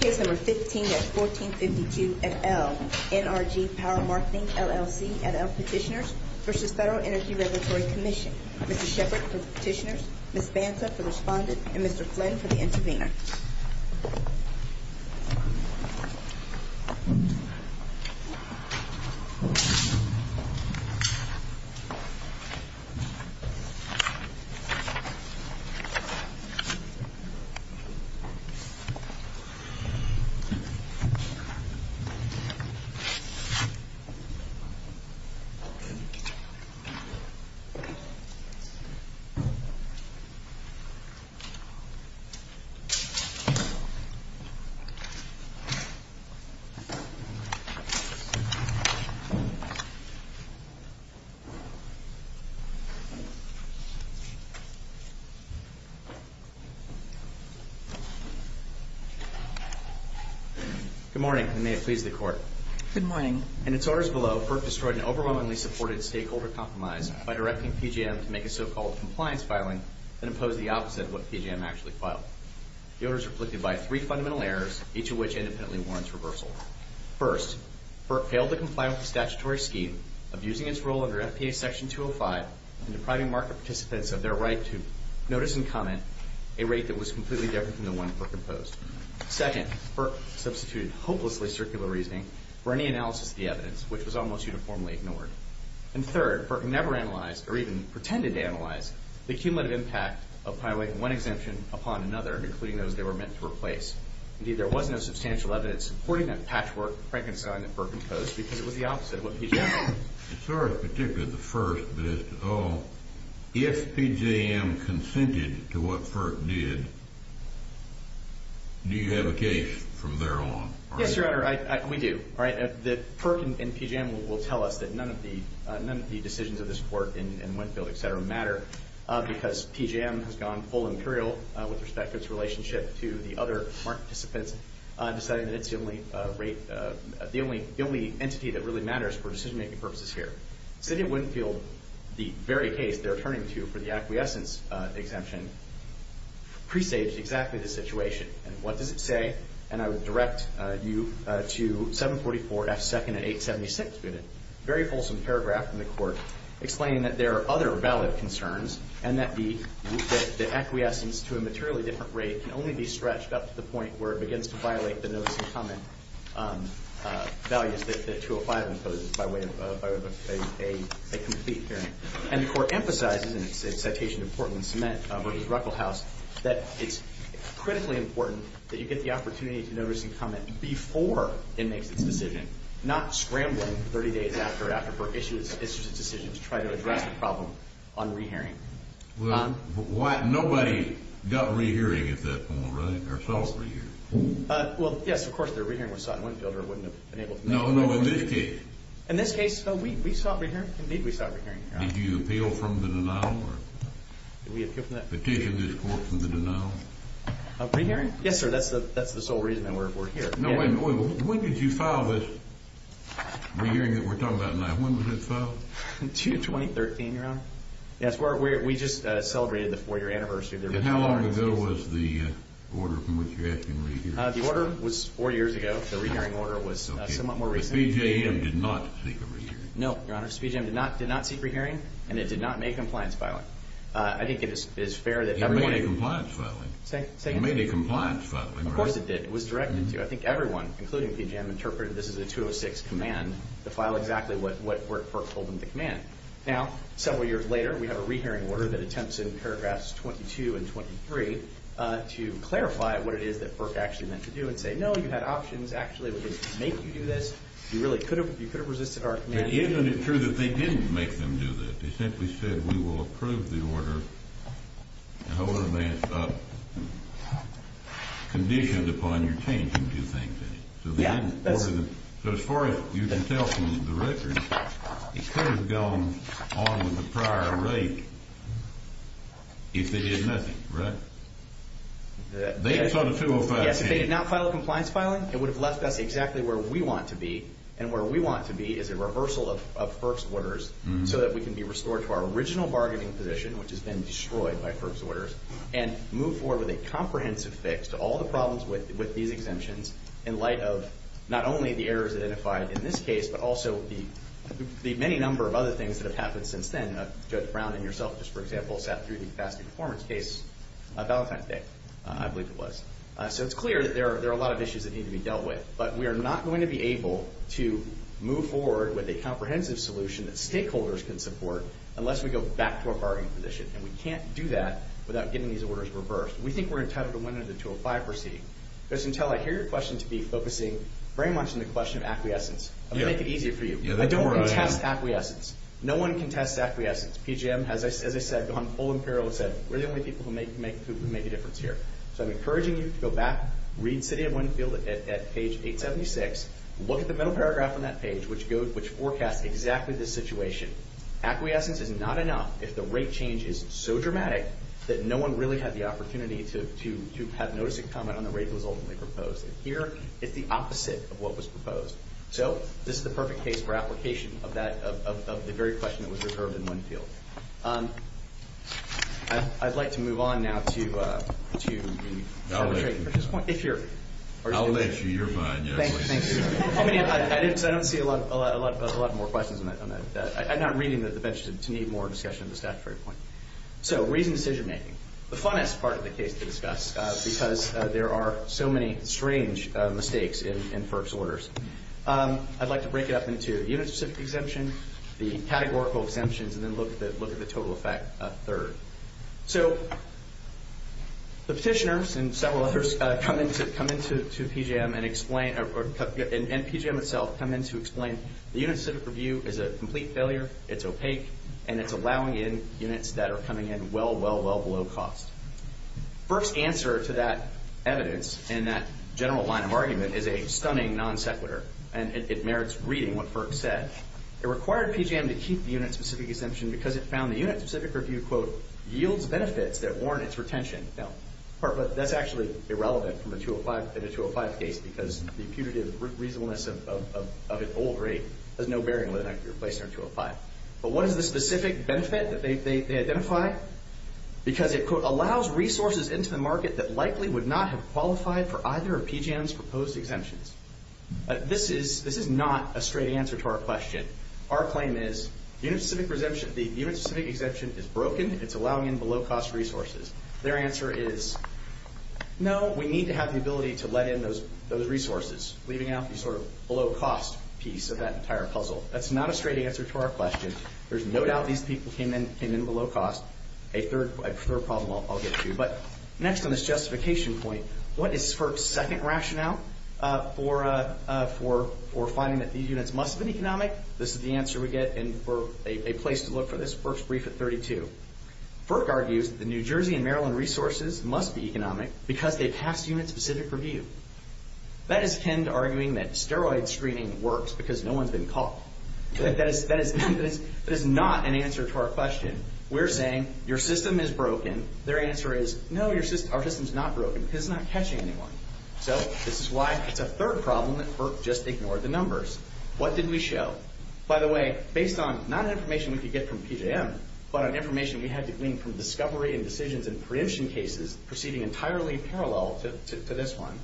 Case No. 15-1452 et al. NRG Power Marketing, LLC et al. Petitioners v. Federal Energy Regulatory Commission Mr. Sheppard for the Petitioners, Ms. Banta for the Respondent, and Mr. Flynn for the Intervenor Mr. Sheppard for the Respondent, and Mr. Flynn for the Intervenor Good morning, and may it please the Court. Good morning. In its orders below, FERC destroyed an overwhelmingly supported stakeholder compromise by directing PJM to make a so-called compliance filing that imposed the opposite of what PJM actually filed. The order is reflected by three fundamental errors, each of which independently warrants reversal. First, FERC failed to comply with the statutory scheme of using its role under FPA Section 205 and depriving market participants of their right to notice and comment a rate that was completely different from the one FERC imposed. Second, FERC substituted hopelessly circular reasoning for any analysis of the evidence, which was almost uniformly ignored. And third, FERC never analyzed, or even pretended to analyze, the cumulative impact of piling one exemption upon another, including those they were meant to replace. Indeed, there was no substantial evidence supporting that patchwork frankenstein that FERC imposed, because it was the opposite of what PJM did. It's not particularly the first, but it's the all. If PJM consented to what FERC did, do you have a case from there on? Yes, Your Honor. We do. All right. FERC and PJM will tell us that none of the decisions of this court in Winfield, et cetera, matter, because PJM has gone full imperial with respect to its relationship to the other market participants, deciding that it's the only entity that really matters for decision-making purposes here. City of Winfield, the very case they're turning to for the acquiescence exemption, presaged exactly the situation. And what does it say? And I would direct you to 744-F-2nd-876. We have a very wholesome paragraph in the court explaining that there are other valid concerns, and that the acquiescence to a materially different rate can only be stretched up to the point where it begins to violate the notice-and-comment values that 205 imposes by way of a decision. And the court emphasizes in its citation of Portland Cement versus Ruckelhaus that it's critically important that you get the opportunity to notice-and-comment before it makes its decision, not scrambling for 30 days after FERC issues its decision to try to address the problem on rehearing. Well, nobody got rehearing at that point, right? Or saw a rehearing. Well, yes, of course, their rehearing was sought in Winfield, or it wouldn't have been able to make it. No, no, in this case. We sought a rehearing. Indeed, we sought a rehearing, Your Honor. Did you appeal from the denial? Did we appeal from that? Petition this court from the denial? Rehearing? Yes, sir. That's the sole reason that we're here. When did you file this rehearing that we're talking about now? When was it filed? June 2013, Your Honor. Yes, we just celebrated the four-year anniversary. And how long ago was the order from which you're asking a rehearing? The order was four years ago. The rehearing order was somewhat more recent. Speed J.M. did not seek a rehearing. No, Your Honor. Speed J.M. did not seek a rehearing, and it did not make a compliance filing. I think it is fair that everyone— It made a compliance filing. Say again? It made a compliance filing. Of course it did. It was directed to. I think everyone, including Speed J.M., interpreted this as a 206 command to file exactly what Burke called the command. Now, several years later, we have a rehearing order that attempts in paragraphs 22 and 23 to clarify what it is that Burke actually meant to do and say, no, you had options. Actually, we didn't make you do this. You really could have. You could have resisted our command. But isn't it true that they didn't make them do that? They simply said, we will approve the order, and the order may have been conditioned upon your changing two things in it. So they didn't order them. So as far as you can tell from the record, it could have gone on with the prior rate if they did nothing, right? Yes, if they did not file a compliance filing, it would have left us exactly where we want to be, and where we want to be is a reversal of Burke's orders so that we can be restored to our original bargaining position, which has been destroyed by Burke's orders, and move forward with a comprehensive fix to all the problems with these exemptions in light of not only the errors identified in this case, but also the many number of other things that have happened since then. Judge Brown and yourself, just for example, sat through the capacity performance case on Valentine's Day, I believe it was. So it's clear that there are a lot of issues that need to be dealt with. But we are not going to be able to move forward with a comprehensive solution that stakeholders can support unless we go back to a bargaining position. And we can't do that without getting these orders reversed. We think we're entitled to win under the 205 receipt, because until I hear your question to be focusing very much on the question of acquiescence, I'll make it easier for you. I don't contest acquiescence. No one contests acquiescence. PGM has, as I said, gone full imperil and said, we're the only people who make a difference here. So I'm encouraging you to go back, read City of Winfield at page 876, look at the middle paragraph on that page, which forecasts exactly this situation. Acquiescence is not enough if the rate change is so dramatic that no one really had the opportunity to have notice and comment on the rate that was ultimately proposed. Here, it's the opposite of what was proposed. So this is the perfect case for application of the very question that was reserved in Winfield. I'd like to move on now to the statutory point. I'll let you. I'll let you. You're fine. Thanks. I don't see a lot more questions on that. I'm not reading the bench to need more discussion of the statutory point. because there are so many strange mistakes in FERC's orders. I'd like to break it up into unit-specific exemption, the categorical exemptions, and then look at the total effect third. So the petitioners and several others come into PGM and explain, and PGM itself, come in to explain, the unit-specific review is a complete failure, it's opaque, and it's allowing in units that are coming in well, well, well below cost. FERC's answer to that evidence in that general line of argument is a stunning non-sequitur, and it merits reading what FERC said. It required PGM to keep the unit-specific exemption because it found the unit-specific review, quote, yields benefits that warrant its retention. Now, that's actually irrelevant in a 205 case because the imputative reasonableness of an old rate has no bearing on whether that could be replaced in a 205. But what is the specific benefit that they identify? Because it, quote, allows resources into the market that likely would not have qualified for either of PGM's proposed exemptions. This is not a straight answer to our question. Our claim is unit-specific exemption is broken, it's allowing in below-cost resources. Their answer is, no, we need to have the ability to let in those resources, leaving out the sort of below-cost piece of that entire puzzle. That's not a straight answer to our question. There's no doubt these people came in with a low cost. A third problem I'll get to. But next on this justification point, what is FERC's second rationale for finding that these units must have been economic? This is the answer we get, and for a place to look for this, FERC's brief at 32. FERC argues that the New Jersey and Maryland resources must be economic because they pass unit-specific review. That is akin to arguing that steroid screening works because no one's been caught. That is not an answer to our question. We're saying your system is broken. Their answer is, no, our system's not broken because it's not catching anyone. So this is why it's a third problem that FERC just ignored the numbers. What did we show? By the way, based on not information we could get from PGM, but on information we had to glean from discovery and decisions in preemption cases, proceeding entirely parallel to this one,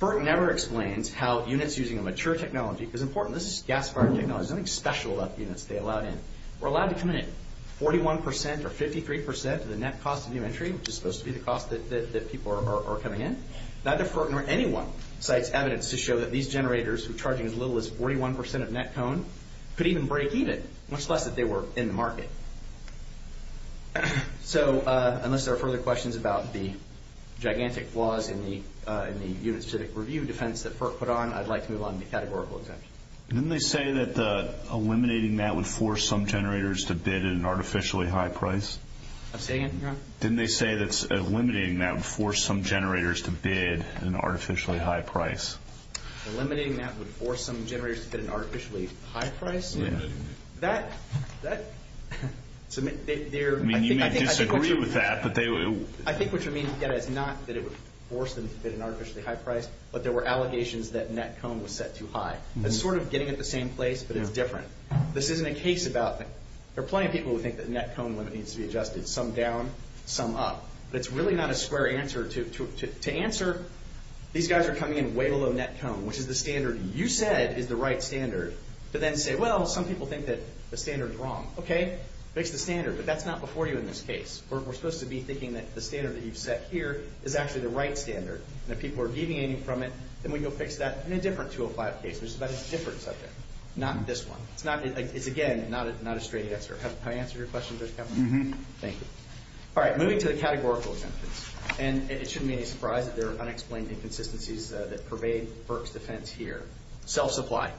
FERC never explains how units using a mature technology, because important, this is gas-fired technology, there's nothing special about the units they allowed in, were allowed to come in at 41% or 53% of the net cost of new entry, which is supposed to be the cost that people are coming in. Neither FERC nor anyone cites evidence to show that these generators, who are charging as little as 41% of net cone, could even break even, much less that they were in the market. So, unless there are further questions about the gigantic flaws in the unit's civic review defense that FERC put on, I'd like to move on to categorical exemptions. Didn't they say that eliminating that would force some generators to bid at an artificially high price? Say again? Didn't they say that eliminating that would force some generators to bid at an artificially high price? Eliminating that would force some generators to bid at an artificially high price? That... I mean, you may disagree with that, but they... I think what you mean to get at is not that it would force them to bid at an artificially high price, but there were allegations that net cone was set too high. It's sort of getting at the same place, but it's different. This isn't a case about... There are plenty of people who think that net cone limit needs to be adjusted, some down, some up. But it's really not a square answer to... To answer, these guys are coming in way below net cone, which is the standard you said is the right standard, to then say, well, some people think that the standard is wrong. Okay, fix the standard, but that's not before you in this case. We're supposed to be thinking that the standard that you've set here is actually the right standard. And if people are deviating from it, then we can go fix that in a different 205 case, which is about a different subject. Not this one. It's not... It's, again, not a straight answer. Have I answered your question, Judge Kavanaugh? Thank you. All right, moving to the categorical exemptions. And it shouldn't be any surprise that there are unexplained inconsistencies that pervade Burke's defense here. Self-supply.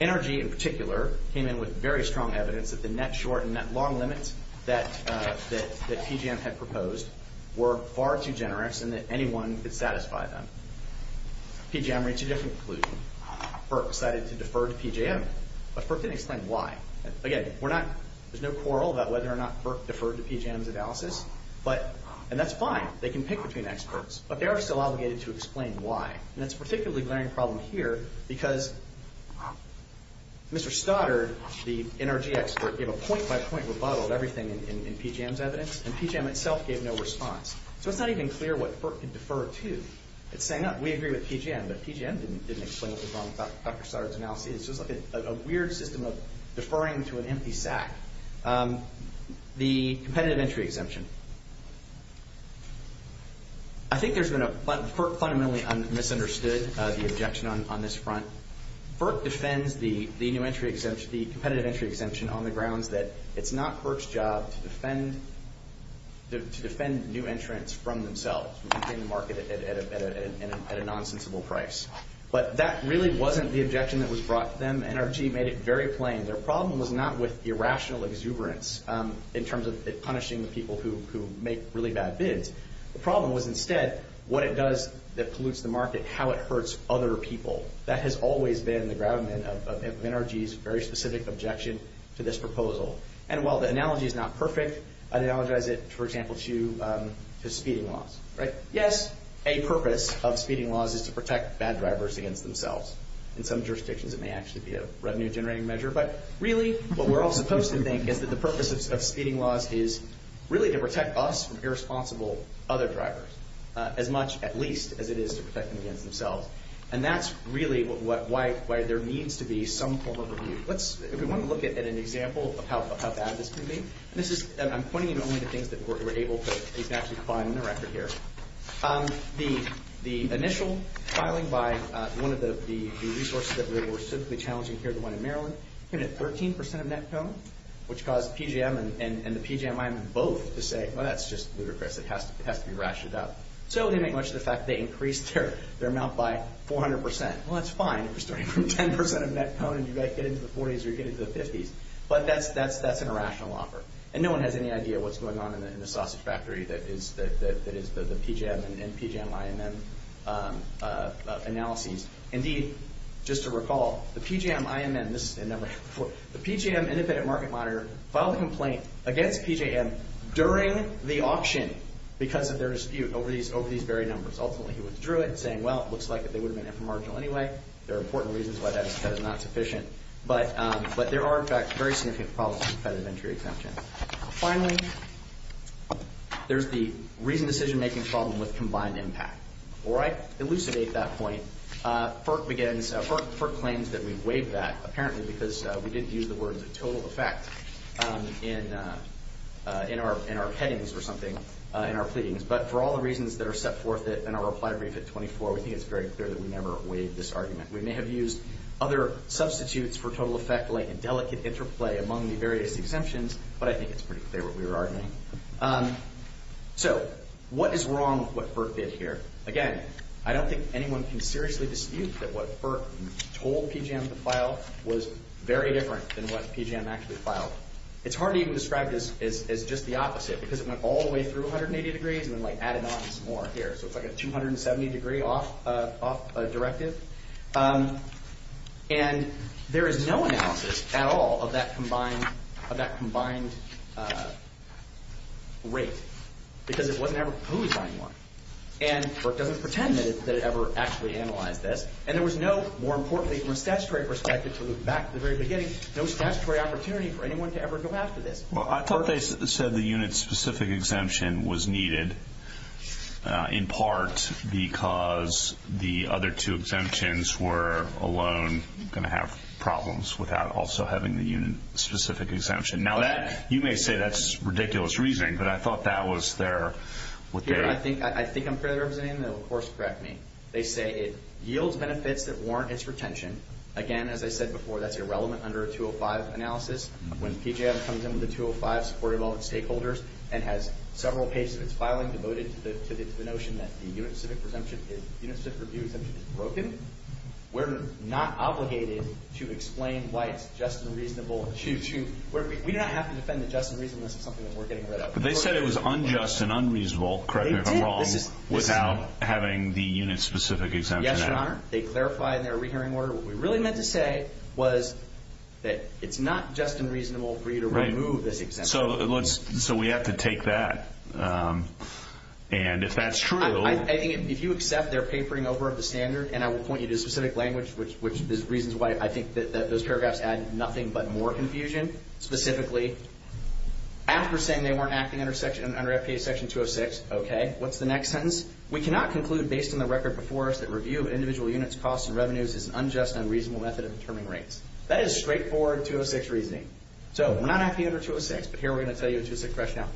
NRG, in particular, came in with very strong evidence that the net short and net long limits that PJM had proposed were far too generous and that anyone could satisfy them. PJM reached a different conclusion. Burke decided to defer to PJM, but Burke didn't explain why. Again, we're not... There's no quarrel about whether or not Burke deferred to PJM's analysis, but... And that's fine. They can pick between experts, but they are still obligated to explain why. And that's a particularly glaring problem here because Mr. Stoddard, the NRG expert, gave a point-by-point rebuttal of everything in PJM's evidence, and PJM itself gave no response. So it's not even clear what Burke could defer to. It's saying, we agree with PJM, but PJM didn't explain what was wrong with Dr. Stoddard's analysis. It's just like a weird system of deferring to an empty sack. The competitive entry exemption. I think there's been a... Burke fundamentally misunderstood the objection on this front. Burke defends the new entry exemption, the competitive entry exemption, on the grounds that it's not Burke's job to defend new entrants from themselves, from completing the market at a nonsensical price. But that really wasn't the objection that was brought to them. NRG made it very plain. Their problem was not with irrational exuberance in terms of punishing the people who make really bad bids. The problem was instead what it does that pollutes the market, how it hurts other people. That has always been the gravamen of NRG's very specific objection to this proposal. And while the analogy is not perfect, I'd analogize it, for example, to speeding laws. Yes, a purpose of speeding laws is to protect bad drivers against themselves. In some jurisdictions it may actually be a revenue-generating measure. But really what we're all supposed to think is that the purpose of speeding laws is really to protect us from irresponsible other drivers, as much at least as it is to protect them against themselves. And that's really why there needs to be some form of review. If we want to look at an example of how bad this could be, I'm pointing you only to things that we're able to actually find in the record here. The initial filing by one of the resources that we were specifically challenging here, the one in Maryland, came in at 13% of net cone, which caused PGM and the PJMIME both to say, well, that's just ludicrous. It has to be ratcheted up. So they make much of the fact they increased their amount by 400%. Well, that's fine if you're starting from 10% of net cone and you guys get into the 40s or you get into the 50s. But that's an irrational offer. And no one has any idea what's going on in the sausage factory that is the PJM and PJMIME analyses. Indeed, just to recall, the PJMIME, and this has never happened before, the PJM Independent Market Monitor filed a complaint against PJM during the auction because of their dispute over these very numbers. Ultimately, he withdrew it, saying, well, it looks like they would have been inframarginal anyway. There are important reasons why that is not sufficient. But there are, in fact, very significant problems with federal entry exemption. Finally, there's the reasoned decision-making problem with combined impact. Before I elucidate that point, FERC claims that we waived that, apparently because we didn't use the words of total effect in our headings or something, in our pleadings. But for all the reasons that are set forth in our reply brief at 24, we think it's very clear that we never waived this argument. We may have used other substitutes for total effect, like indelicate interplay among the various exemptions, but I think it's pretty clear what we were arguing. So, what is wrong with what FERC did here? Again, I don't think anyone can seriously dispute that what FERC told PJM to file was very different than what PJM actually filed. It's hard to even describe this as just the opposite, because it went all the way through 180 degrees and then added on some more here. So, it's like a 270-degree off directive. And there is no analysis at all of that combined rate, because it wasn't ever who was buying what. And FERC doesn't pretend that it ever actually analyzed this. And there was no, more importantly from a statutory perspective, back to the very beginning, no statutory opportunity for anyone to ever go after this. Well, I thought they said the unit-specific exemption was needed in part because the other two exemptions were alone going to have problems without also having the unit-specific exemption. Now, you may say that's ridiculous reasoning, but I thought that was their... I think I'm fairly representative, and they'll of course correct me. They say it yields benefits that warrant its retention. Again, as I said before, that's irrelevant under a 205 analysis. When PJM comes in with a 205 supported by all its stakeholders and has several pages of its filing devoted to the notion that the unit-specific review exemption is broken, we're not obligated to explain why it's just and reasonable to... We do not have to defend the just and reasonableness of something that we're getting rid of. But they said it was unjust and unreasonable, correct me if I'm wrong, without having the unit-specific exemption added. Yes, Your Honor. They clarified in their rehearing order. What we really meant to say was that it's not just and reasonable for you to remove this exemption. So we have to take that. And if that's true... I think if you accept their papering over of the standard, and I will point you to a specific language, which is reasons why I think that those paragraphs add nothing but more confusion. Specifically, after saying they weren't acting under FPA Section 206, okay, what's the next sentence? We cannot conclude based on the record before us that review of individual units, costs, and revenues is an unjust and unreasonable method of determining rates. That is straightforward 206 reasoning. So we're not acting under 206, but here we're going to tell you a 206 rationale.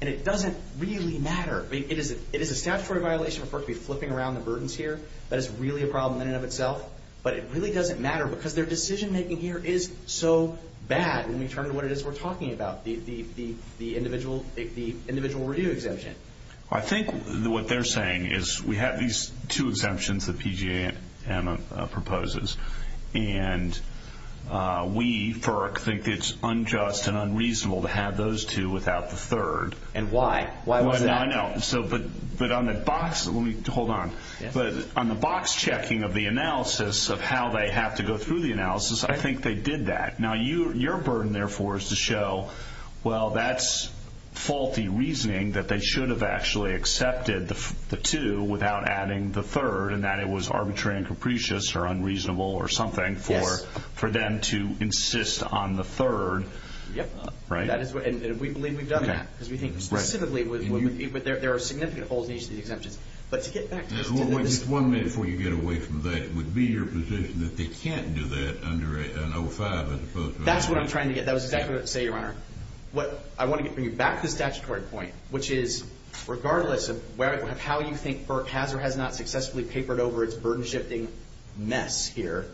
And it doesn't really matter. It is a statutory violation referred to as flipping around the burdens here. That is really a problem in and of itself. But it really doesn't matter because their decision-making here is so bad when we turn to what it is we're talking about, the individual review exemption. I think what they're saying is we have these two exemptions that PG&M proposes. And we, FERC, think it's unjust and unreasonable to have those two without the third. And why? Why was that? I know. But on the box... Hold on. But on the box checking of the analysis of how they have to go through the analysis, I think they did that. Now your burden, therefore, is to show, well, that's faulty reasoning that they should have actually accepted the two without adding the third and that it was arbitrary and capricious or unreasonable or something for them to insist on the third. Yep. And we believe we've done that because we think specifically there are significant holes in each of these exemptions. But to get back to this... It would be your position that they can't do that under an 05 as opposed to... That's what I'm trying to get. That was exactly what I was going to say, Your Honor. I want to get back to the statutory point, which is regardless of how you think FERC has or has not successfully papered over its burden-shifting mess here,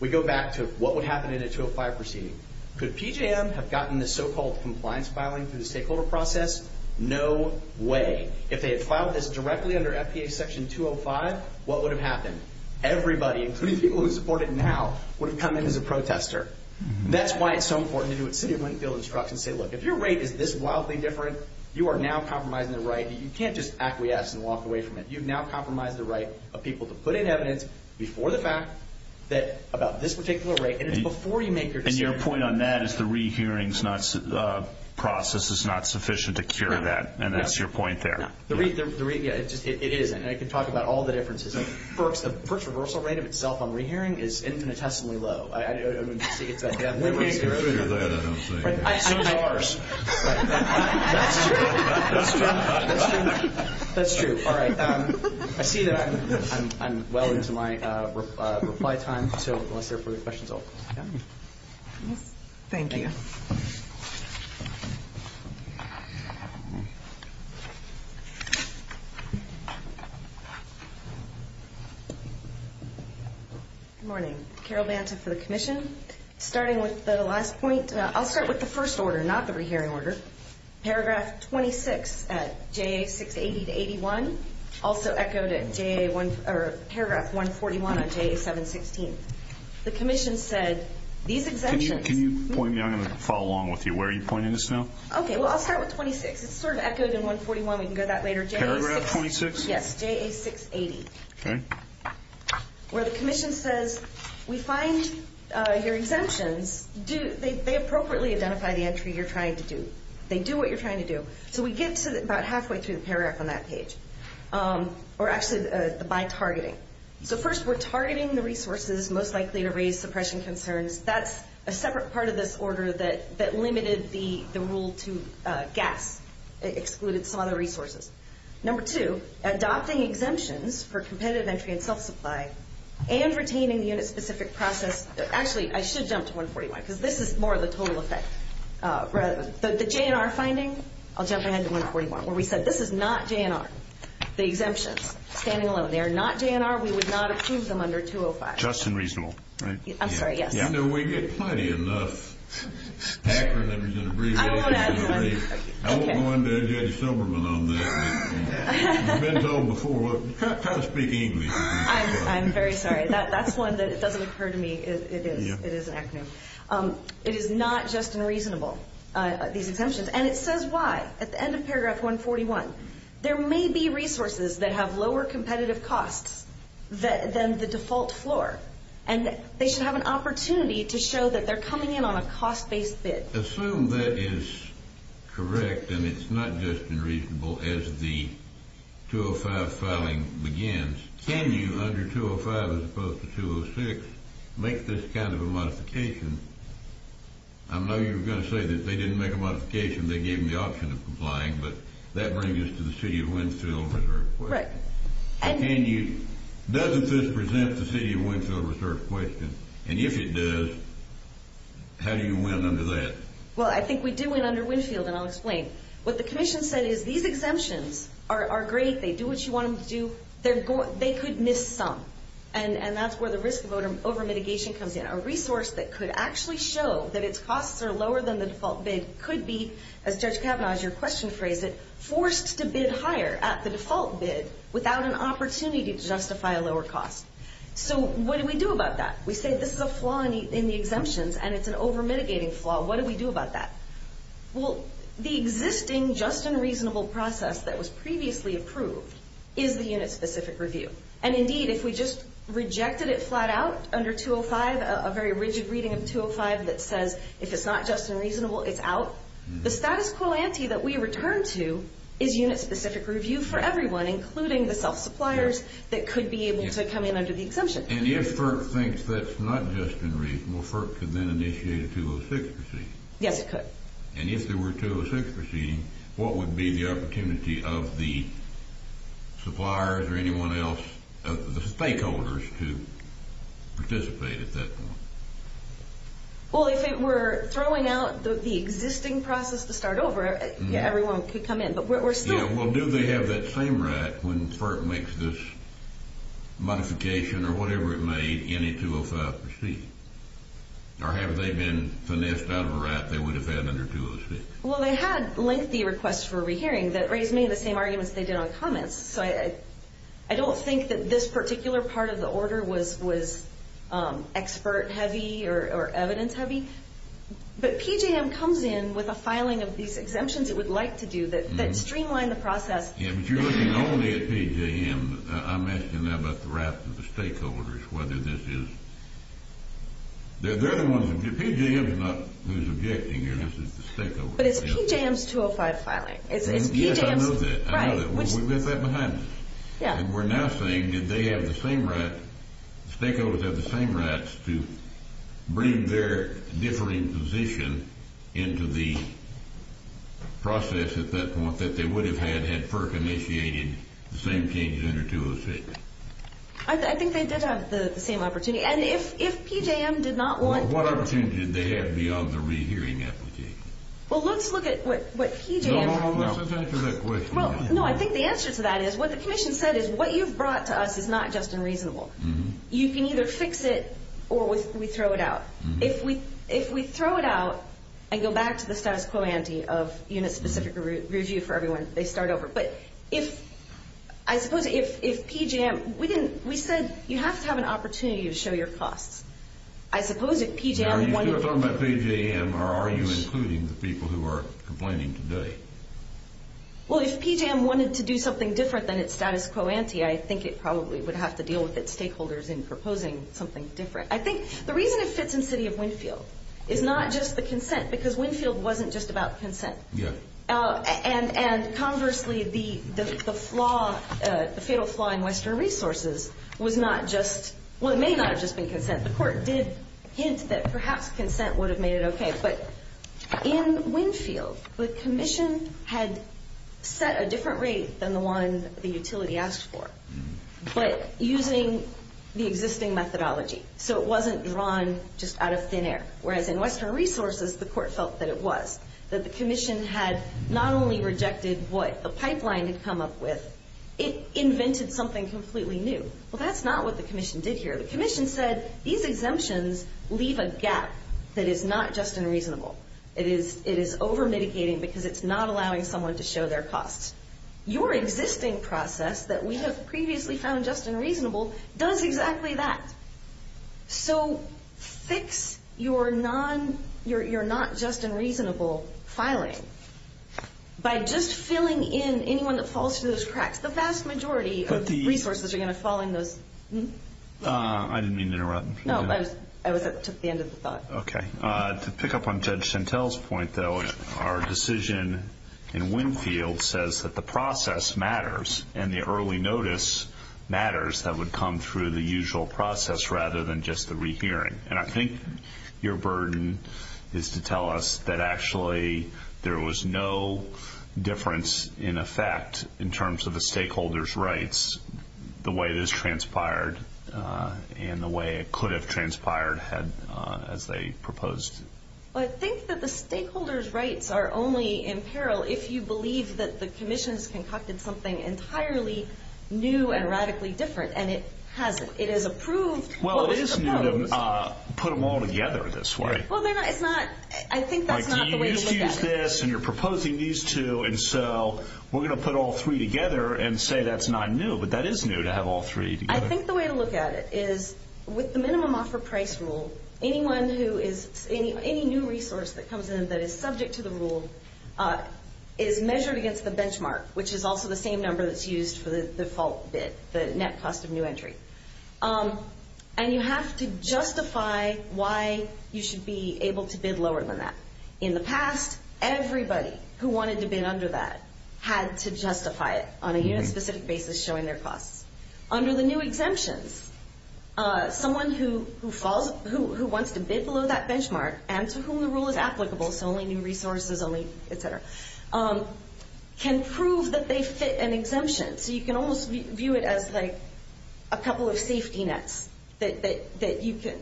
we go back to what would happen in a 205 proceeding. Could PG&M have gotten this so-called compliance filing through the stakeholder process? No way. If they had filed this directly under FPA Section 205, what would have happened? Everybody, including people who support it now, would have come in as a protester. That's why it's so important to do what City of Winfield instructs and say, Look, if your rate is this wildly different, you are now compromising the right. You can't just acquiesce and walk away from it. You've now compromised the right of people to put in evidence before the fact about this particular rate, and it's before you make your decision. And your point on that is the re-hearing process is not sufficient to cure that, and that's your point there. It isn't, and I can talk about all the differences. FERC's reversal rate of itself on re-hearing is infinitesimally low. I don't know if you see it that way. We can't cure that, I don't think. So do ours. That's true. That's true. All right. I see that I'm well into my reply time, so unless there are further questions, I'll call it a day. Thank you. Thank you. Good morning. Carol Banta for the Commission. Starting with the last point, I'll start with the first order, not the re-hearing order. Paragraph 26 at JA680-81, also echoed at paragraph 141 of JA716. The Commission said these exemptions. Can you point me? I'm going to follow along with you. Where are you pointing this now? Okay. Well, I'll start with 26. It's sort of echoed in 141. We can go to that later. Paragraph 26? Yes. JA680. Okay. Where the Commission says we find your exemptions. They appropriately identify the entry you're trying to do. They do what you're trying to do. So we get to about halfway through the paragraph on that page, or actually by targeting. So first we're targeting the resources most likely to raise suppression concerns. That's a separate part of this order that limited the rule to gas. It excluded some other resources. Number two, adopting exemptions for competitive entry and self-supply and retaining the unit-specific process. Actually, I should jump to 141, because this is more of the total effect. The JNR finding, I'll jump ahead to 141, where we said this is not JNR, the exemptions. Standing alone. They are not JNR. We would not approve them under 205. Just and reasonable, right? I'm sorry, yes. You know, we get plenty enough acronyms and abbreviations. I won't add one. I won't go into J.D. Silberman on that. I've been told before, try to speak English. I'm very sorry. That's one that doesn't occur to me. It is an acronym. It is not just and reasonable, these exemptions. And it says why at the end of paragraph 141. There may be resources that have lower competitive costs than the default floor, and they should have an opportunity to show that they're coming in on a cost-based bid. Assume that is correct and it's not just and reasonable as the 205 filing begins. Can you, under 205 as opposed to 206, make this kind of a modification? I know you were going to say that they didn't make a modification. They gave them the option of complying, but that brings us to the City of Winfield Reserve question. Right. Doesn't this present the City of Winfield Reserve question? And if it does, how do you win under that? Well, I think we do win under Winfield, and I'll explain. What the commission said is these exemptions are great. They do what you want them to do. They could miss some, and that's where the risk of over-mitigation comes in. A resource that could actually show that its costs are lower than the default bid could be, as Judge Kavanaugh, as your question phrased it, forced to bid higher at the default bid without an opportunity to justify a lower cost. So what do we do about that? We say this is a flaw in the exemptions, and it's an over-mitigating flaw. What do we do about that? Well, the existing just and reasonable process that was previously approved is the unit-specific review. And, indeed, if we just rejected it flat out under 205, a very rigid reading of 205 that says if it's not just and reasonable, it's out, the status quo ante that we return to is unit-specific review for everyone, including the self-suppliers that could be able to come in under the exemption. And if FERC thinks that's not just and reasonable, FERC could then initiate a 206 proceeding? Yes, it could. And if there were a 206 proceeding, what would be the opportunity of the suppliers or anyone else, the stakeholders, to participate at that point? Well, if it were throwing out the existing process to start over, everyone could come in. But we're still – Yeah, well, do they have that same right when FERC makes this modification or whatever it made in a 205 proceeding? Or have they been finessed out of a right they would have had under 206? Well, they had lengthy requests for a rehearing that raised many of the same arguments they did on comments. So I don't think that this particular part of the order was expert-heavy or evidence-heavy. But PJM comes in with a filing of these exemptions it would like to do that streamline the process. Yeah, but you're looking only at PJM. I'm asking now about the raft of the stakeholders, whether this is – They're the ones – PJM is not who's objecting here. This is the stakeholders. But it's PJM's 205 filing. Yes, I know that. It's PJM's – right. We left that behind us. Yeah. And we're now saying, did they have the same right – stakeholders have the same rights to bring their differing position into the process at that point that they would have had had FERC initiated the same changes under 206? I think they did have the same opportunity. And if PJM did not want – What opportunity did they have beyond the rehearing application? Well, let's look at what PJM – No, no, no. Let's answer that question. No, I think the answer to that is what the commission said is what you've brought to us is not just unreasonable. You can either fix it or we throw it out. If we throw it out and go back to the status quo ante of unit-specific review for everyone, they start over. But if – I suppose if PJM – we said you have to have an opportunity to show your costs. I suppose if PJM wanted – Are you still talking about PJM or are you including the people who are complaining today? Well, if PJM wanted to do something different than its status quo ante, I think it probably would have to deal with its stakeholders in proposing something different. I think the reason it fits in City of Winfield is not just the consent because Winfield wasn't just about consent. Yes. And conversely, the flaw – the fatal flaw in Western Resources was not just – well, it may not have just been consent. The court did hint that perhaps consent would have made it okay. But in Winfield, the commission had set a different rate than the one the utility asked for, but using the existing methodology. So it wasn't drawn just out of thin air. Whereas in Western Resources, the court felt that it was. That the commission had not only rejected what the pipeline had come up with, it invented something completely new. Well, that's not what the commission did here. The commission said these exemptions leave a gap that is not just and reasonable. It is over-mitigating because it's not allowing someone to show their costs. Your existing process that we have previously found just and reasonable does exactly that. So fix your not just and reasonable filing by just filling in anyone that falls through those cracks. The vast majority of resources are going to fall in those. I didn't mean to interrupt. No, I took the end of the thought. Okay. To pick up on Judge Chantel's point, though, our decision in Winfield says that the process matters and the early notice matters that would come through the usual process rather than just the rehearing. And I think your burden is to tell us that actually there was no difference in effect in terms of the stakeholders' rights, the way it has transpired and the way it could have transpired as they proposed. Well, I think that the stakeholders' rights are only in peril if you believe that the commission has concocted something entirely new and radically different, and it has. It is approved. Well, it is new to put them all together this way. Well, it's not. I think that's not the way to look at it. You used to use this, and you're proposing these two, and so we're going to put all three together and say that's not new. But that is new to have all three together. I think the way to look at it is with the minimum offer price rule, anyone who is any new resource that comes in that is subject to the rule is measured against the benchmark, which is also the same number that's used for the default bid, the net cost of new entry. And you have to justify why you should be able to bid lower than that. In the past, everybody who wanted to bid under that had to justify it on a unit-specific basis showing their costs. Under the new exemptions, someone who wants to bid below that benchmark and to whom the rule is applicable, so only new resources, only et cetera, can prove that they fit an exemption. So you can almost view it as like a couple of safety nets that you can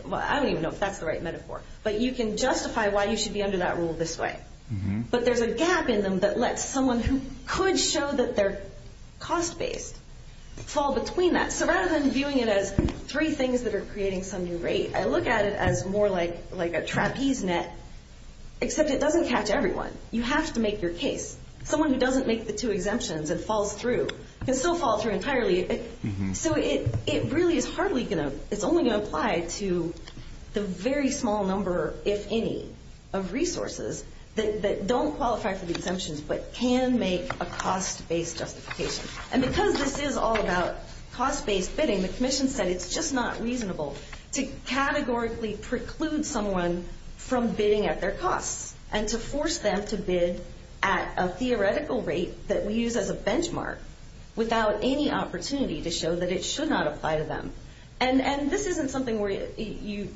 – well, I don't even know if that's the right metaphor, but you can justify why you should be under that rule this way. But there's a gap in them that lets someone who could show that they're cost-based fall between that. So rather than viewing it as three things that are creating some new rate, I look at it as more like a trapeze net, except it doesn't catch everyone. You have to make your case. Someone who doesn't make the two exemptions and falls through can still fall through entirely. So it really is hardly going to – it's only going to apply to the very small number, if any, of resources that don't qualify for the exemptions but can make a cost-based justification. And because this is all about cost-based bidding, the Commission said it's just not reasonable to categorically preclude someone from bidding at their costs and to force them to bid at a theoretical rate that we use as a benchmark without any opportunity to show that it should not apply to them. And this isn't something where you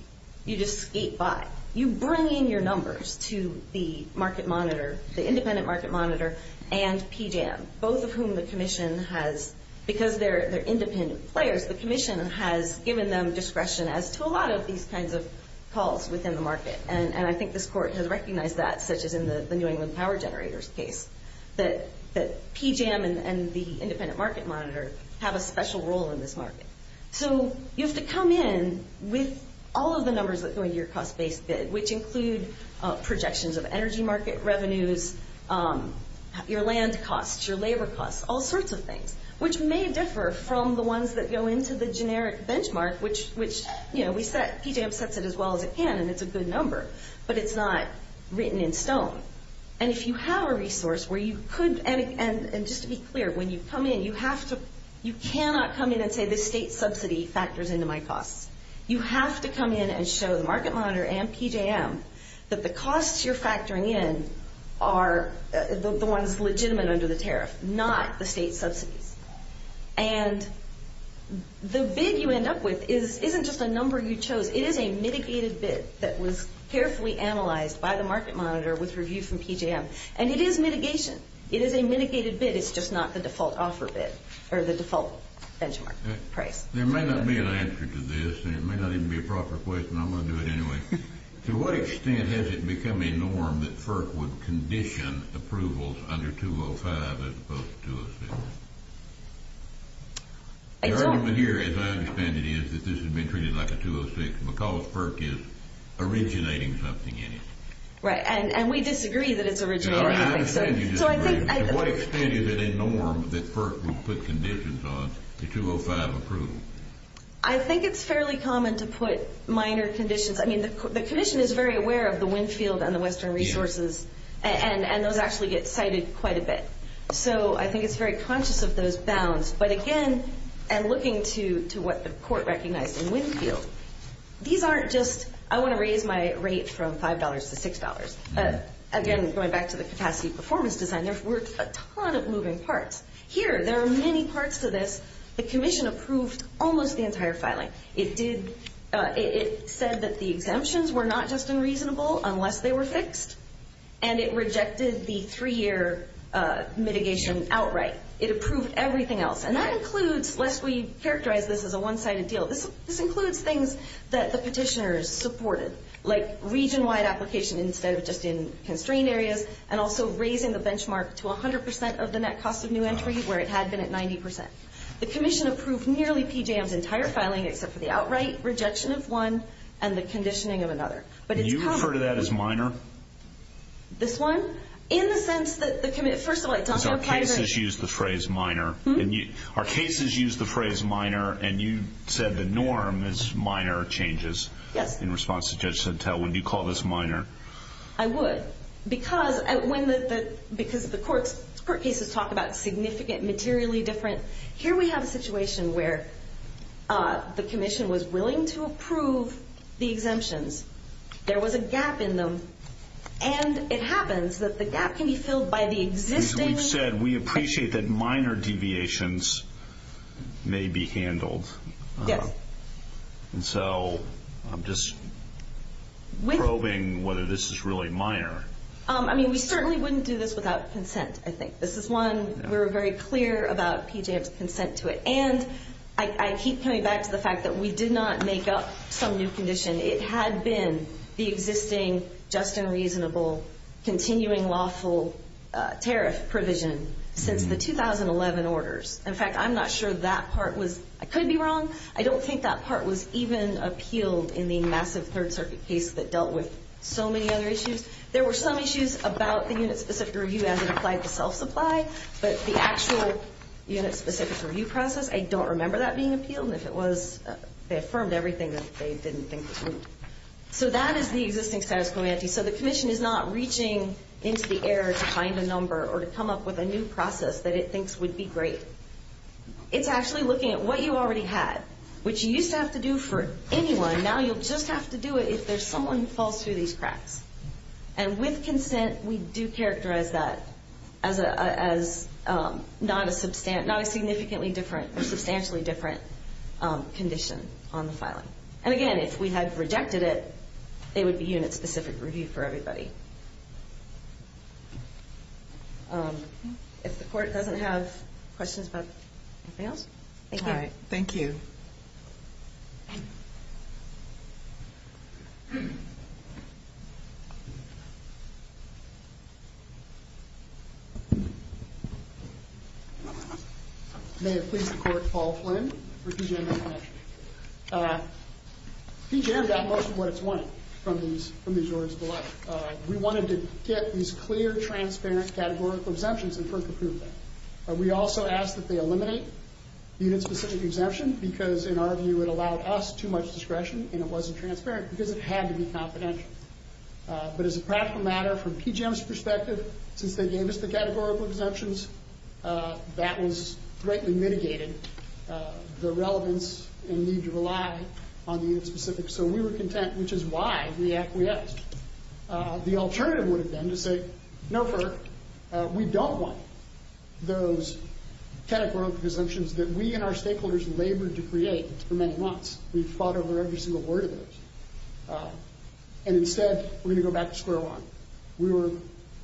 just skate by. You bring in your numbers to the market monitor, the independent market monitor, and PJAM, both of whom the Commission has – because they're independent players, the Commission has given them discretion as to a lot of these kinds of calls within the market. And I think this Court has recognized that, such as in the New England Power Generators case, that PJAM and the independent market monitor have a special role in this market. So you have to come in with all of the numbers that go into your cost-based bid, which include projections of energy market revenues, your land costs, your labor costs, all sorts of things, which may differ from the ones that go into the generic benchmark, which, you know, PJAM sets it as well as it can and it's a good number, but it's not written in stone. And if you have a resource where you could – and just to be clear, when you come in, you have to – you cannot come in and say this state subsidy factors into my costs. You have to come in and show the market monitor and PJAM that the costs you're factoring in are the ones legitimate under the tariff, not the state subsidies. And the bid you end up with isn't just a number you chose. It is a mitigated bid that was carefully analyzed by the market monitor with review from PJAM, and it is mitigation. It is a mitigated bid. It's just not the default offer bid or the default benchmark price. There may not be an answer to this, and it may not even be a proper question. I'm going to do it anyway. To what extent has it become a norm that FERC would condition approvals under 205 as opposed to 206? The argument here, as I understand it, is that this has been treated like a 206 because FERC is originating something in it. Right, and we disagree that it's originating. To what extent is it a norm that FERC would put conditions on the 205 approval? I think it's fairly common to put minor conditions. I mean, the Commission is very aware of the Winfield and the Western resources, and those actually get cited quite a bit. So I think it's very conscious of those bounds. But again, and looking to what the court recognized in Winfield, these aren't just, I want to raise my rate from $5 to $6. Again, going back to the capacity performance design, there were a ton of moving parts. Here, there are many parts to this. The Commission approved almost the entire filing. It said that the exemptions were not just unreasonable unless they were fixed, and it rejected the three-year mitigation outright. It approved everything else. And that includes, lest we characterize this as a one-sided deal, this includes things that the petitioners supported, like region-wide application instead of just in constrained areas, and also raising the benchmark to 100% of the net cost of new entry where it had been at 90%. The Commission approved nearly PJM's entire filing except for the outright rejection of one and the conditioning of another. Can you refer to that as minor? This one? In the sense that the Commission, first of all, it's on the archiving. Our cases use the phrase minor. Our cases use the phrase minor, and you said the norm is minor changes. Yes. In response to Judge Santel, would you call this minor? I would. Because the court cases talk about significant, materially different. Here we have a situation where the Commission was willing to approve the exemptions. There was a gap in them, and it happens that the gap can be filled by the existing. As we've said, we appreciate that minor deviations may be handled. Yes. And so I'm just probing whether this is really minor. I mean, we certainly wouldn't do this without consent, I think. This is one we were very clear about PJM's consent to it. And I keep coming back to the fact that we did not make up some new condition. It had been the existing just and reasonable continuing lawful tariff provision since the 2011 orders. In fact, I'm not sure that part was. I could be wrong. I don't think that part was even appealed in the massive Third Circuit case that dealt with so many other issues. There were some issues about the unit-specific review as it applied to self-supply, but the actual unit-specific review process, I don't remember that being appealed. And if it was, they affirmed everything that they didn't think was needed. So that is the existing status quo ante. So the Commission is not reaching into the air to find a number or to come up with a new process that it thinks would be great. It's actually looking at what you already had, which you used to have to do for anyone. Now you'll just have to do it if there's someone who falls through these cracks. And with consent, we do characterize that as not a significantly different or substantially different condition on the filing. And again, if we had rejected it, it would be unit-specific review for everybody. If the Court doesn't have questions about anything else, thank you. All right. Thank you. May it please the Court, Paul Flynn for PG&M International. PG&M got most of what it's wanting from these orders of the letter. We wanted to get these clear, transparent categorical exemptions and first approve them. We also asked that they eliminate unit-specific exemption because, in our view, it allowed us too much discretion and it wasn't transparent because it had to be confidential. But as a practical matter, from PG&M's perspective, since they gave us the categorical exemptions, that has greatly mitigated the relevance and need to rely on the unit-specific. So we were content, which is why we acquiesced. The alternative would have been to say, no, we don't want those categorical exemptions that we and our stakeholders labored to create for many months. We fought over every single word of those. And instead, we're going to go back to square one.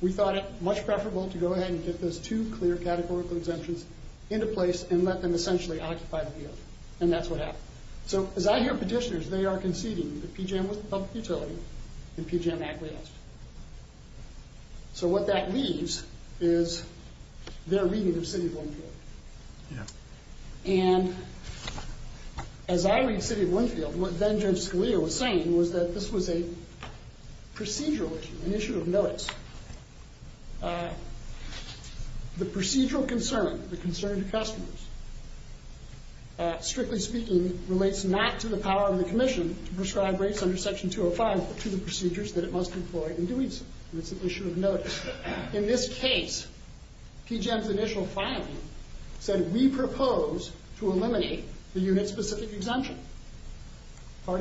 We thought it much preferable to go ahead and get those two clear categorical exemptions into place and let them essentially occupy the field. And that's what happened. So as I hear petitioners, they are conceding that PG&M was the public utility and PG&M acquiesced. So what that leaves is their reading of City of Winfield. And as I read City of Winfield, what then Judge Scalia was saying was that this was a procedural issue, an issue of notice. The procedural concern, the concern to customers, strictly speaking, relates not to the power of the Commission to prescribe rates under Section 205, but to the procedures that it must employ in doing so. And it's an issue of notice. In this case, PG&M's initial filing said, we propose to eliminate the unit-specific exemption. Well,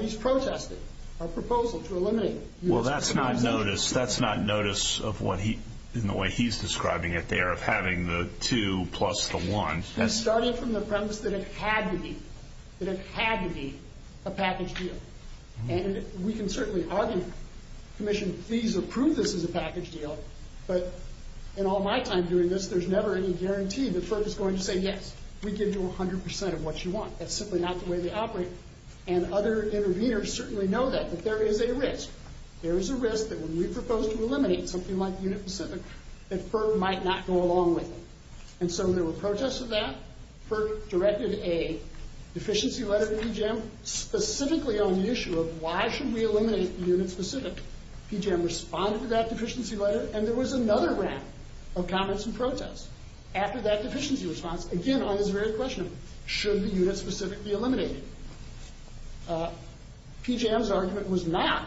that's not notice. That's not notice in the way he's describing it there, of having the two plus the one. That's starting from the premise that it had to be, that it had to be a package deal. And we can certainly argue, Commission, please approve this as a package deal. But in all my time doing this, there's never any guarantee that FERPA's going to say, yes, we give you 100 percent of what you want. That's simply not the way they operate. And other interveners certainly know that. But there is a risk. There is a risk that when we propose to eliminate something like unit-specific, that FERPA might not go along with it. And so there were protests of that. FERPA directed a deficiency letter to PG&M specifically on the issue of, why should we eliminate unit-specific? PG&M responded to that deficiency letter, and there was another round of comments and protests after that deficiency response, again, on this very question, should the unit-specific be eliminated? PG&M's argument was not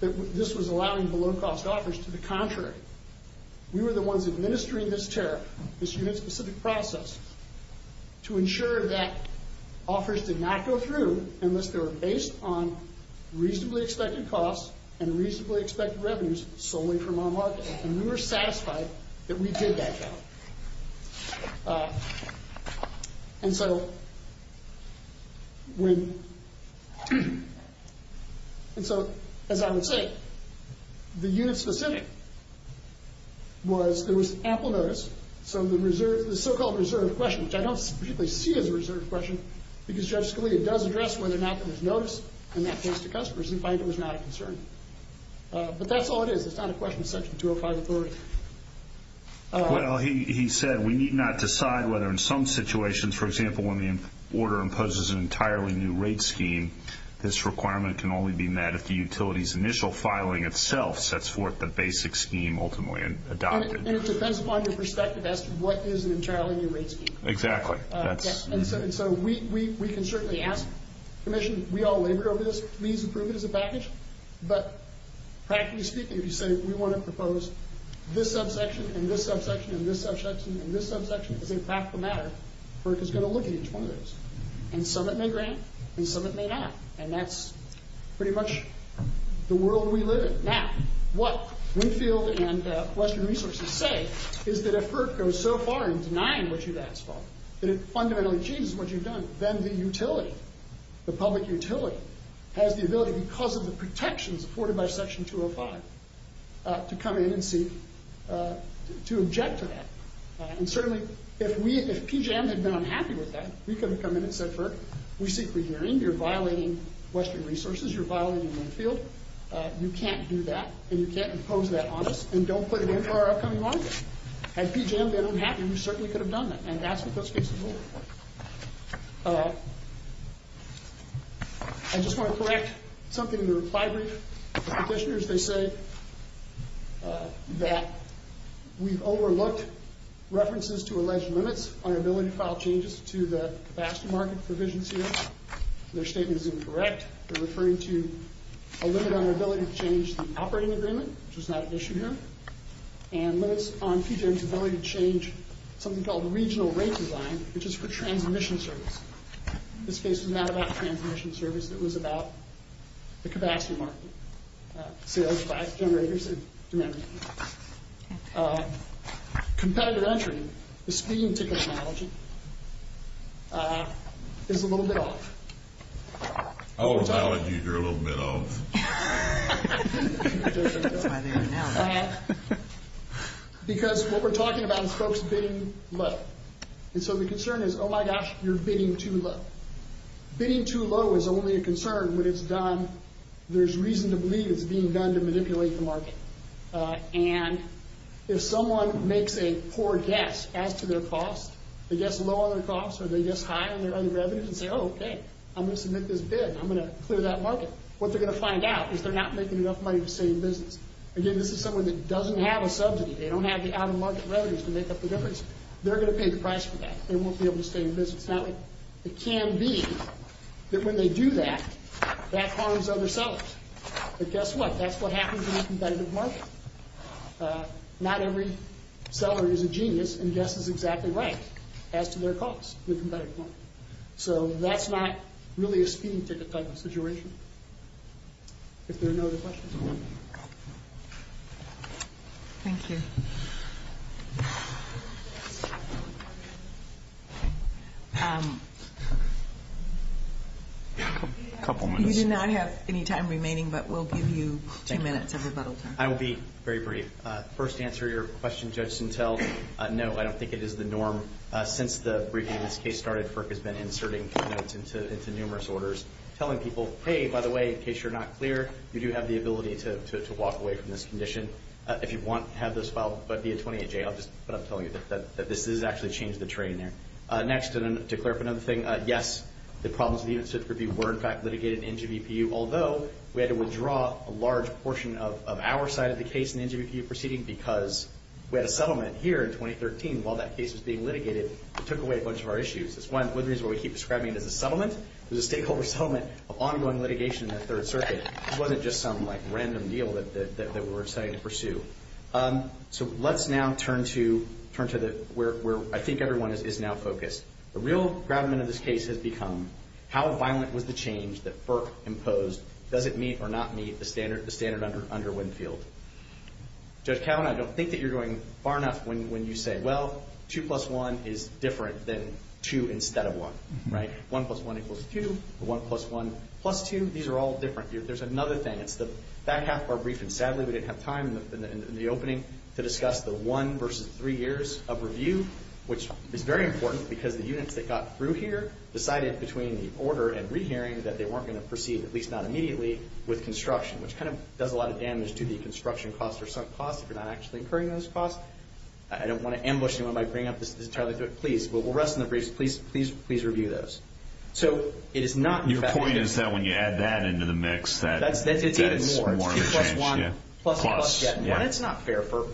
that this was allowing below-cost offers. To the contrary, we were the ones administering this tariff, this unit-specific process, to ensure that offers did not go through unless they were based on reasonably expected costs and reasonably expected revenues solely from our market. And we were satisfied that we did that job. And so, as I would say, the unit-specific was there was ample notice. So the so-called reserve question, which I don't particularly see as a reserve question, because Judge Scalia does address whether or not there was notice in that case to customers. In fact, it was not a concern. But that's all it is. It's not a question of Section 205 authority. Well, he said we need not decide whether in some situations, for example, when the order imposes an entirely new rate scheme, this requirement can only be met if the utility's initial filing itself sets forth the basic scheme ultimately adopted. And it depends upon your perspective as to what is an entirely new rate scheme. Exactly. And so we can certainly ask the Commission, we all labored over this, if it means improvement as a package. But practically speaking, if you say we want to propose this subsection and this subsection and this subsection and this subsection as a practical matter, FERC is going to look at each one of those. And some it may grant, and some it may not. And that's pretty much the world we live in. Now, what Winfield and Western Resources say is that if FERC goes so far in denying what you've asked for, that it fundamentally changes what you've done, then the utility, the public utility, has the ability, because of the protections afforded by Section 205, to come in and seek to object to that. And certainly, if PJM had been unhappy with that, we could have come in and said, FERC, we seek regarding. You're violating Western Resources. You're violating Winfield. You can't do that, and you can't impose that on us, and don't put an end to our upcoming law. Had PJM been unhappy, we certainly could have done that. And that's what this case is all about. I just want to correct something in the reply brief. The petitioners, they say that we've overlooked references to alleged limits on our ability to file changes to the capacity market provisions here. Their statement is incorrect. They're referring to a limit on our ability to change the operating agreement, which is not an issue here, and limits on PJM's ability to change something called regional rate design, which is for transmission service. This case was not about transmission service. It was about the capacity market, sales, generators, and demand. Competitor entry, the speeding ticket analogy, is a little bit off. I won't allow it to be a little bit off. Because what we're talking about is folks bidding low. And so the concern is, oh, my gosh, you're bidding too low. Bidding too low is only a concern when it's done, there's reason to believe it's being done to manipulate the market. And if someone makes a poor guess as to their cost, they guess low on their cost or they guess high on their other revenues and say, oh, okay, I'm going to submit this bid. I'm going to clear that market. What they're going to find out is they're not making enough money to stay in business. Again, this is someone that doesn't have a subsidy. They don't have the out-of-market revenues to make up the difference. They're going to pay the price for that. They won't be able to stay in business. Now, it can be that when they do that, that harms other sellers. But guess what? That's what happens in a competitive market. Not every seller is a genius and guesses exactly right as to their cost in a competitive market. So that's not really a speeding ticket type of situation. If there are no other questions, I'm done. Thank you. A couple minutes. You do not have any time remaining, but we'll give you two minutes of rebuttal time. I will be very brief. First, to answer your question, Judge Sintel, no, I don't think it is the norm. Since the briefing of this case started, FERC has been inserting comments into numerous orders telling people, hey, by the way, in case you're not clear, you do have the ability to walk away from this condition. If you want to have this filed via 28J, I'll just put up telling you that this has actually changed the train there. Next, to clear up another thing, yes, the problems of the incident review were, in fact, litigated in NGVPU, although we had to withdraw a large portion of our side of the case in the NGVPU proceeding because we had a settlement here in 2013. While that case was being litigated, it took away a bunch of our issues. That's one reason why we keep describing it as a settlement. It was a stakeholder settlement of ongoing litigation in the Third Circuit. It wasn't just some random deal that we were deciding to pursue. Let's now turn to where I think everyone is now focused. The real gravamen of this case has become how violent was the change that FERC imposed? Does it meet or not meet the standard under Winfield? Judge Kavanaugh, I don't think that you're going far enough when you say, well, 2 plus 1 is different than 2 instead of 1, right? 1 plus 1 equals 2, or 1 plus 1 plus 2. These are all different. There's another thing. It's the back half of our briefing. Sadly, we didn't have time in the opening to discuss the 1 versus 3 years of review, which is very important because the units that got through here decided between the order and rehearing that they weren't going to proceed, at least not immediately, with construction, which kind of does a lot of damage to the construction cost or sunk cost if you're not actually incurring those costs. I don't want to ambush anyone by bringing up this entirely. Please, we'll rest in the briefs. Please review those. Your point is that when you add that into the mix, that's more intense. It's 2 plus 1 plus 2 plus 1. It's not fair for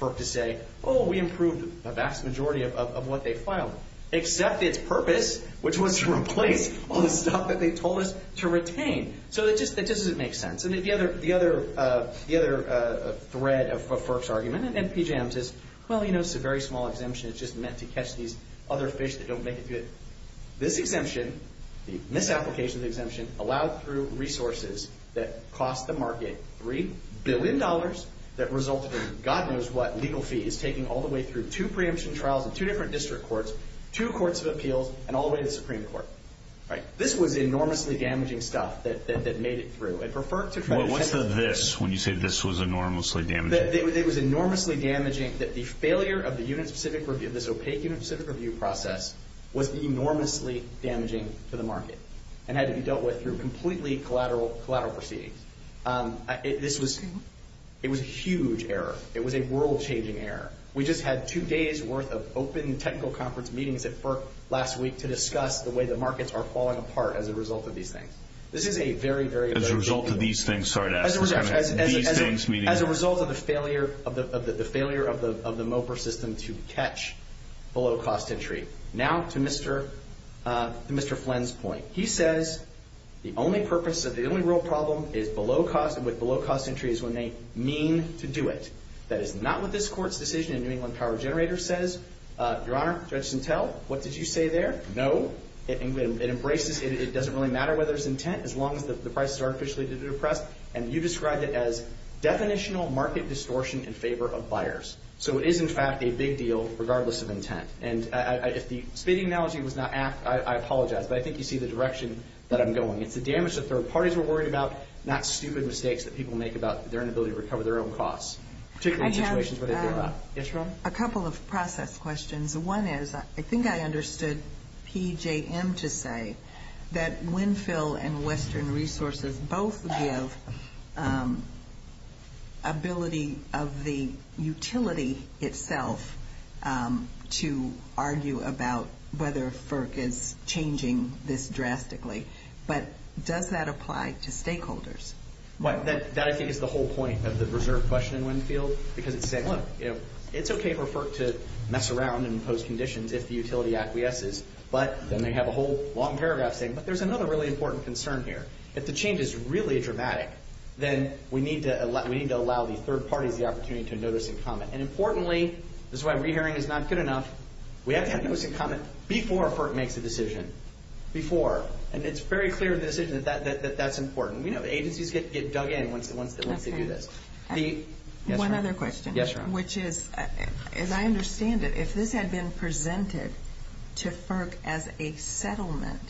FERC to say, oh, we improved the vast majority of what they filed, except its purpose, which was to replace all the stuff that they told us to retain. So that just doesn't make sense. The other thread of FERC's argument, and then PJM's, is, well, you know, it's a very small exemption. It's just meant to catch these other fish that don't make it through it. This exemption, this application of the exemption, allowed through resources that cost the market $3 billion that resulted in God knows what legal fee is taking all the way through two preemption trials in two different district courts, two courts of appeals, and all the way to the Supreme Court. This was enormously damaging stuff that made it through. What's the this when you say this was enormously damaging? It was enormously damaging that the failure of the unit-specific review, this opaque unit-specific review process, was enormously damaging to the market and had to be dealt with through completely collateral proceedings. It was a huge error. It was a world-changing error. We just had two days' worth of open technical conference meetings at FERC last week to discuss the way the markets are falling apart as a result of these things. This is a very, very- As a result of these things, sorry to ask. As a result of the failure of the MOPR system to catch below-cost entry. Now to Mr. Flynn's point. He says the only purpose, the only real problem with below-cost entry is when they mean to do it. That is not what this Court's decision in New England Power Generator says. Your Honor, Judge Sintel, what did you say there? No. It embraces, it doesn't really matter whether it's intent as long as the prices are artificially depressed. And you described it as definitional market distortion in favor of buyers. So it is, in fact, a big deal regardless of intent. And if the speeding analogy was not apt, I apologize. But I think you see the direction that I'm going. It's the damage that third parties were worried about, not stupid mistakes that people make about their inability to recover their own costs, particularly in situations where they do that. Yes, Your Honor. A couple of process questions. One is I think I understood PJM to say that Winfield and Western Resources both give ability of the utility itself to argue about whether FERC is changing this drastically. But does that apply to stakeholders? That I think is the whole point of the reserve question in Winfield. Because it's saying, look, it's okay for FERC to mess around and impose conditions if the utility acquiesces. But then they have a whole long paragraph saying, but there's another really important concern here. If the change is really dramatic, then we need to allow the third parties the opportunity to notice and comment. And importantly, this is why re-hearing is not good enough, we have to have notice and comment before FERC makes a decision. Before. And it's very clear in the decision that that's important. We know agencies get dug in once they do this. One other question. Yes, Your Honor. Which is, as I understand it, if this had been presented to FERC as a settlement,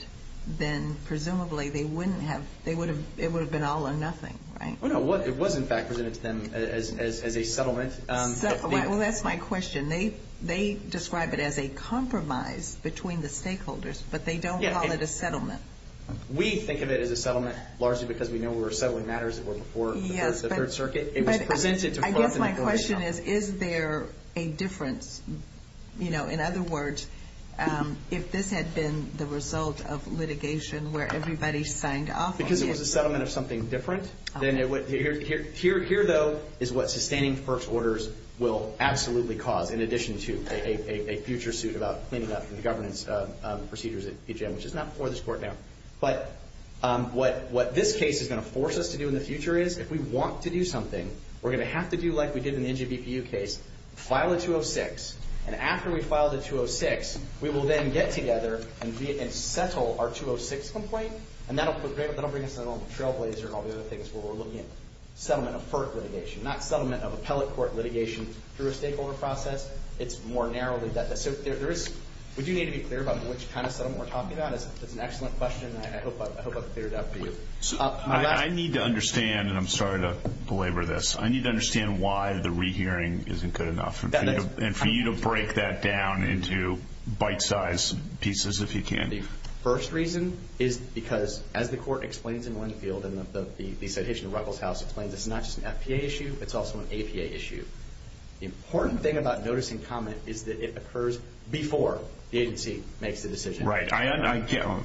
then presumably it would have been all or nothing, right? It was, in fact, presented to them as a settlement. Well, that's my question. They describe it as a compromise between the stakeholders, but they don't call it a settlement. We think of it as a settlement, largely because we know we're settling matters that were before the Third Circuit. It was presented to FERC. I guess my question is, is there a difference? In other words, if this had been the result of litigation where everybody signed off on it. Because it was a settlement of something different. Here, though, is what sustaining FERC's orders will absolutely cause, in addition to a future suit about cleaning up the governance procedures at PJM, which is not before this court now. But what this case is going to force us to do in the future is, if we want to do something, we're going to have to do like we did in the NJBPU case, file a 206. And after we file the 206, we will then get together and settle our 206 complaint. And that will bring us on the trailblazer and all the other things where we're looking at settlement of FERC litigation, not settlement of appellate court litigation through a stakeholder process. It's more narrowly. We do need to be clear about which kind of settlement we're talking about. It's an excellent question. I hope I've cleared it up for you. I need to understand, and I'm sorry to belabor this, I need to understand why the rehearing isn't good enough. And for you to break that down into bite-size pieces, if you can. The first reason is because, as the court explains in Winfield, and the citation of Ruckelshaus explains, it's not just an FPA issue, it's also an APA issue. The important thing about noticing comment is that it occurs before the agency makes the decision. Right. I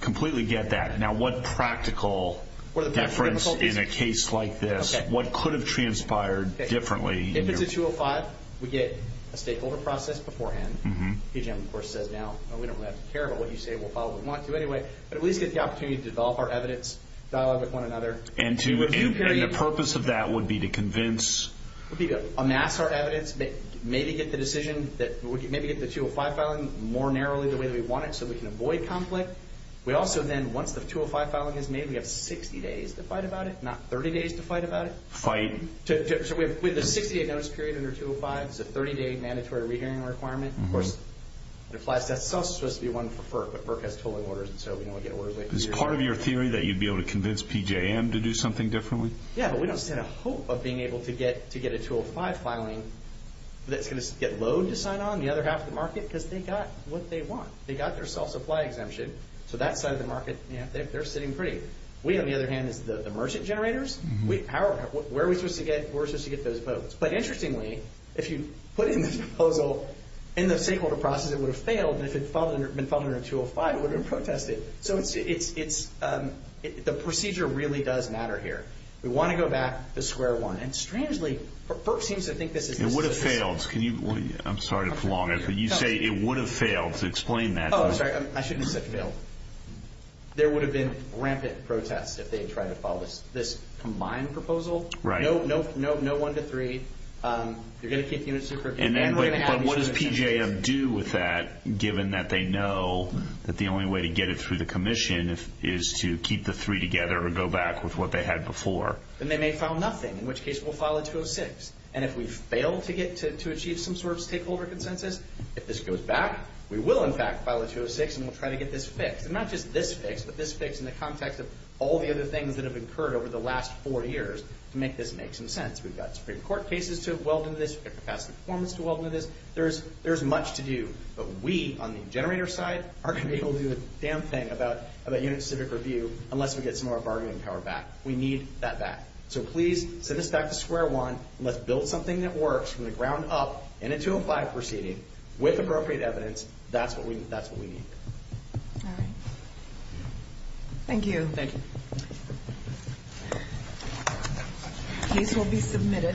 completely get that. Now, what practical difference in a case like this, what could have transpired differently? If it's a 205, we get a stakeholder process beforehand. PG&M, of course, says now we don't really have to care about what you say. We'll follow what we want to anyway. But at least get the opportunity to develop our evidence, dialogue with one another. And the purpose of that would be to convince? It would be to amass our evidence, maybe get the decision, maybe get the 205 filing more narrowly the way that we want it so we can avoid conflict. We also then, once the 205 filing is made, we have 60 days to fight about it, not 30 days to fight about it. Fight? So we have a 60-day notice period under 205. It's a 30-day mandatory rehearing requirement. Of course, it applies to us. It's also supposed to be one for FERC, but FERC has tolling orders, and so we don't get orders late. Is part of your theory that you'd be able to convince PG&M to do something differently? Yeah, but we don't stand a hope of being able to get a 205 filing that's going to get Lode to sign on, the other half of the market, because they got what they want. They got their self-supply exemption, so that side of the market, they're sitting free. We, on the other hand, as the merchant generators, where are we supposed to get those votes? But interestingly, if you put in this proposal in the stakeholder process, it would have failed, and if it had been filed under 205, it would have protested. So the procedure really does matter here. We want to go back to square one, and strangely, FERC seems to think this is the solution. It would have failed. I'm sorry to prolong it, but you say it would have failed. Explain that. Oh, I'm sorry. I shouldn't have said failed. There would have been rampant protest if they had tried to file this combined proposal. Right. No one to three. You're going to keep the units separate. But what does PJM do with that, given that they know that the only way to get it through the commission is to keep the three together or go back with what they had before? Then they may file nothing, in which case we'll file a 206. And if we fail to achieve some sort of stakeholder consensus, if this goes back, we will, in fact, file a 206, and we'll try to get this fixed. And not just this fixed, but this fixed in the context of all the other things that have occurred over the last four years to make this make some sense. We've got Supreme Court cases to weld into this. We've got capacity performance to weld into this. There's much to do. But we on the generator side aren't going to be able to do a damn thing about unit specific review unless we get some of our bargaining power back. We need that back. So please send this back to square one, and let's build something that works from the ground up in a 205 proceeding with appropriate evidence. That's what we need. All right. Thank you. Thank you. The case will be submitted.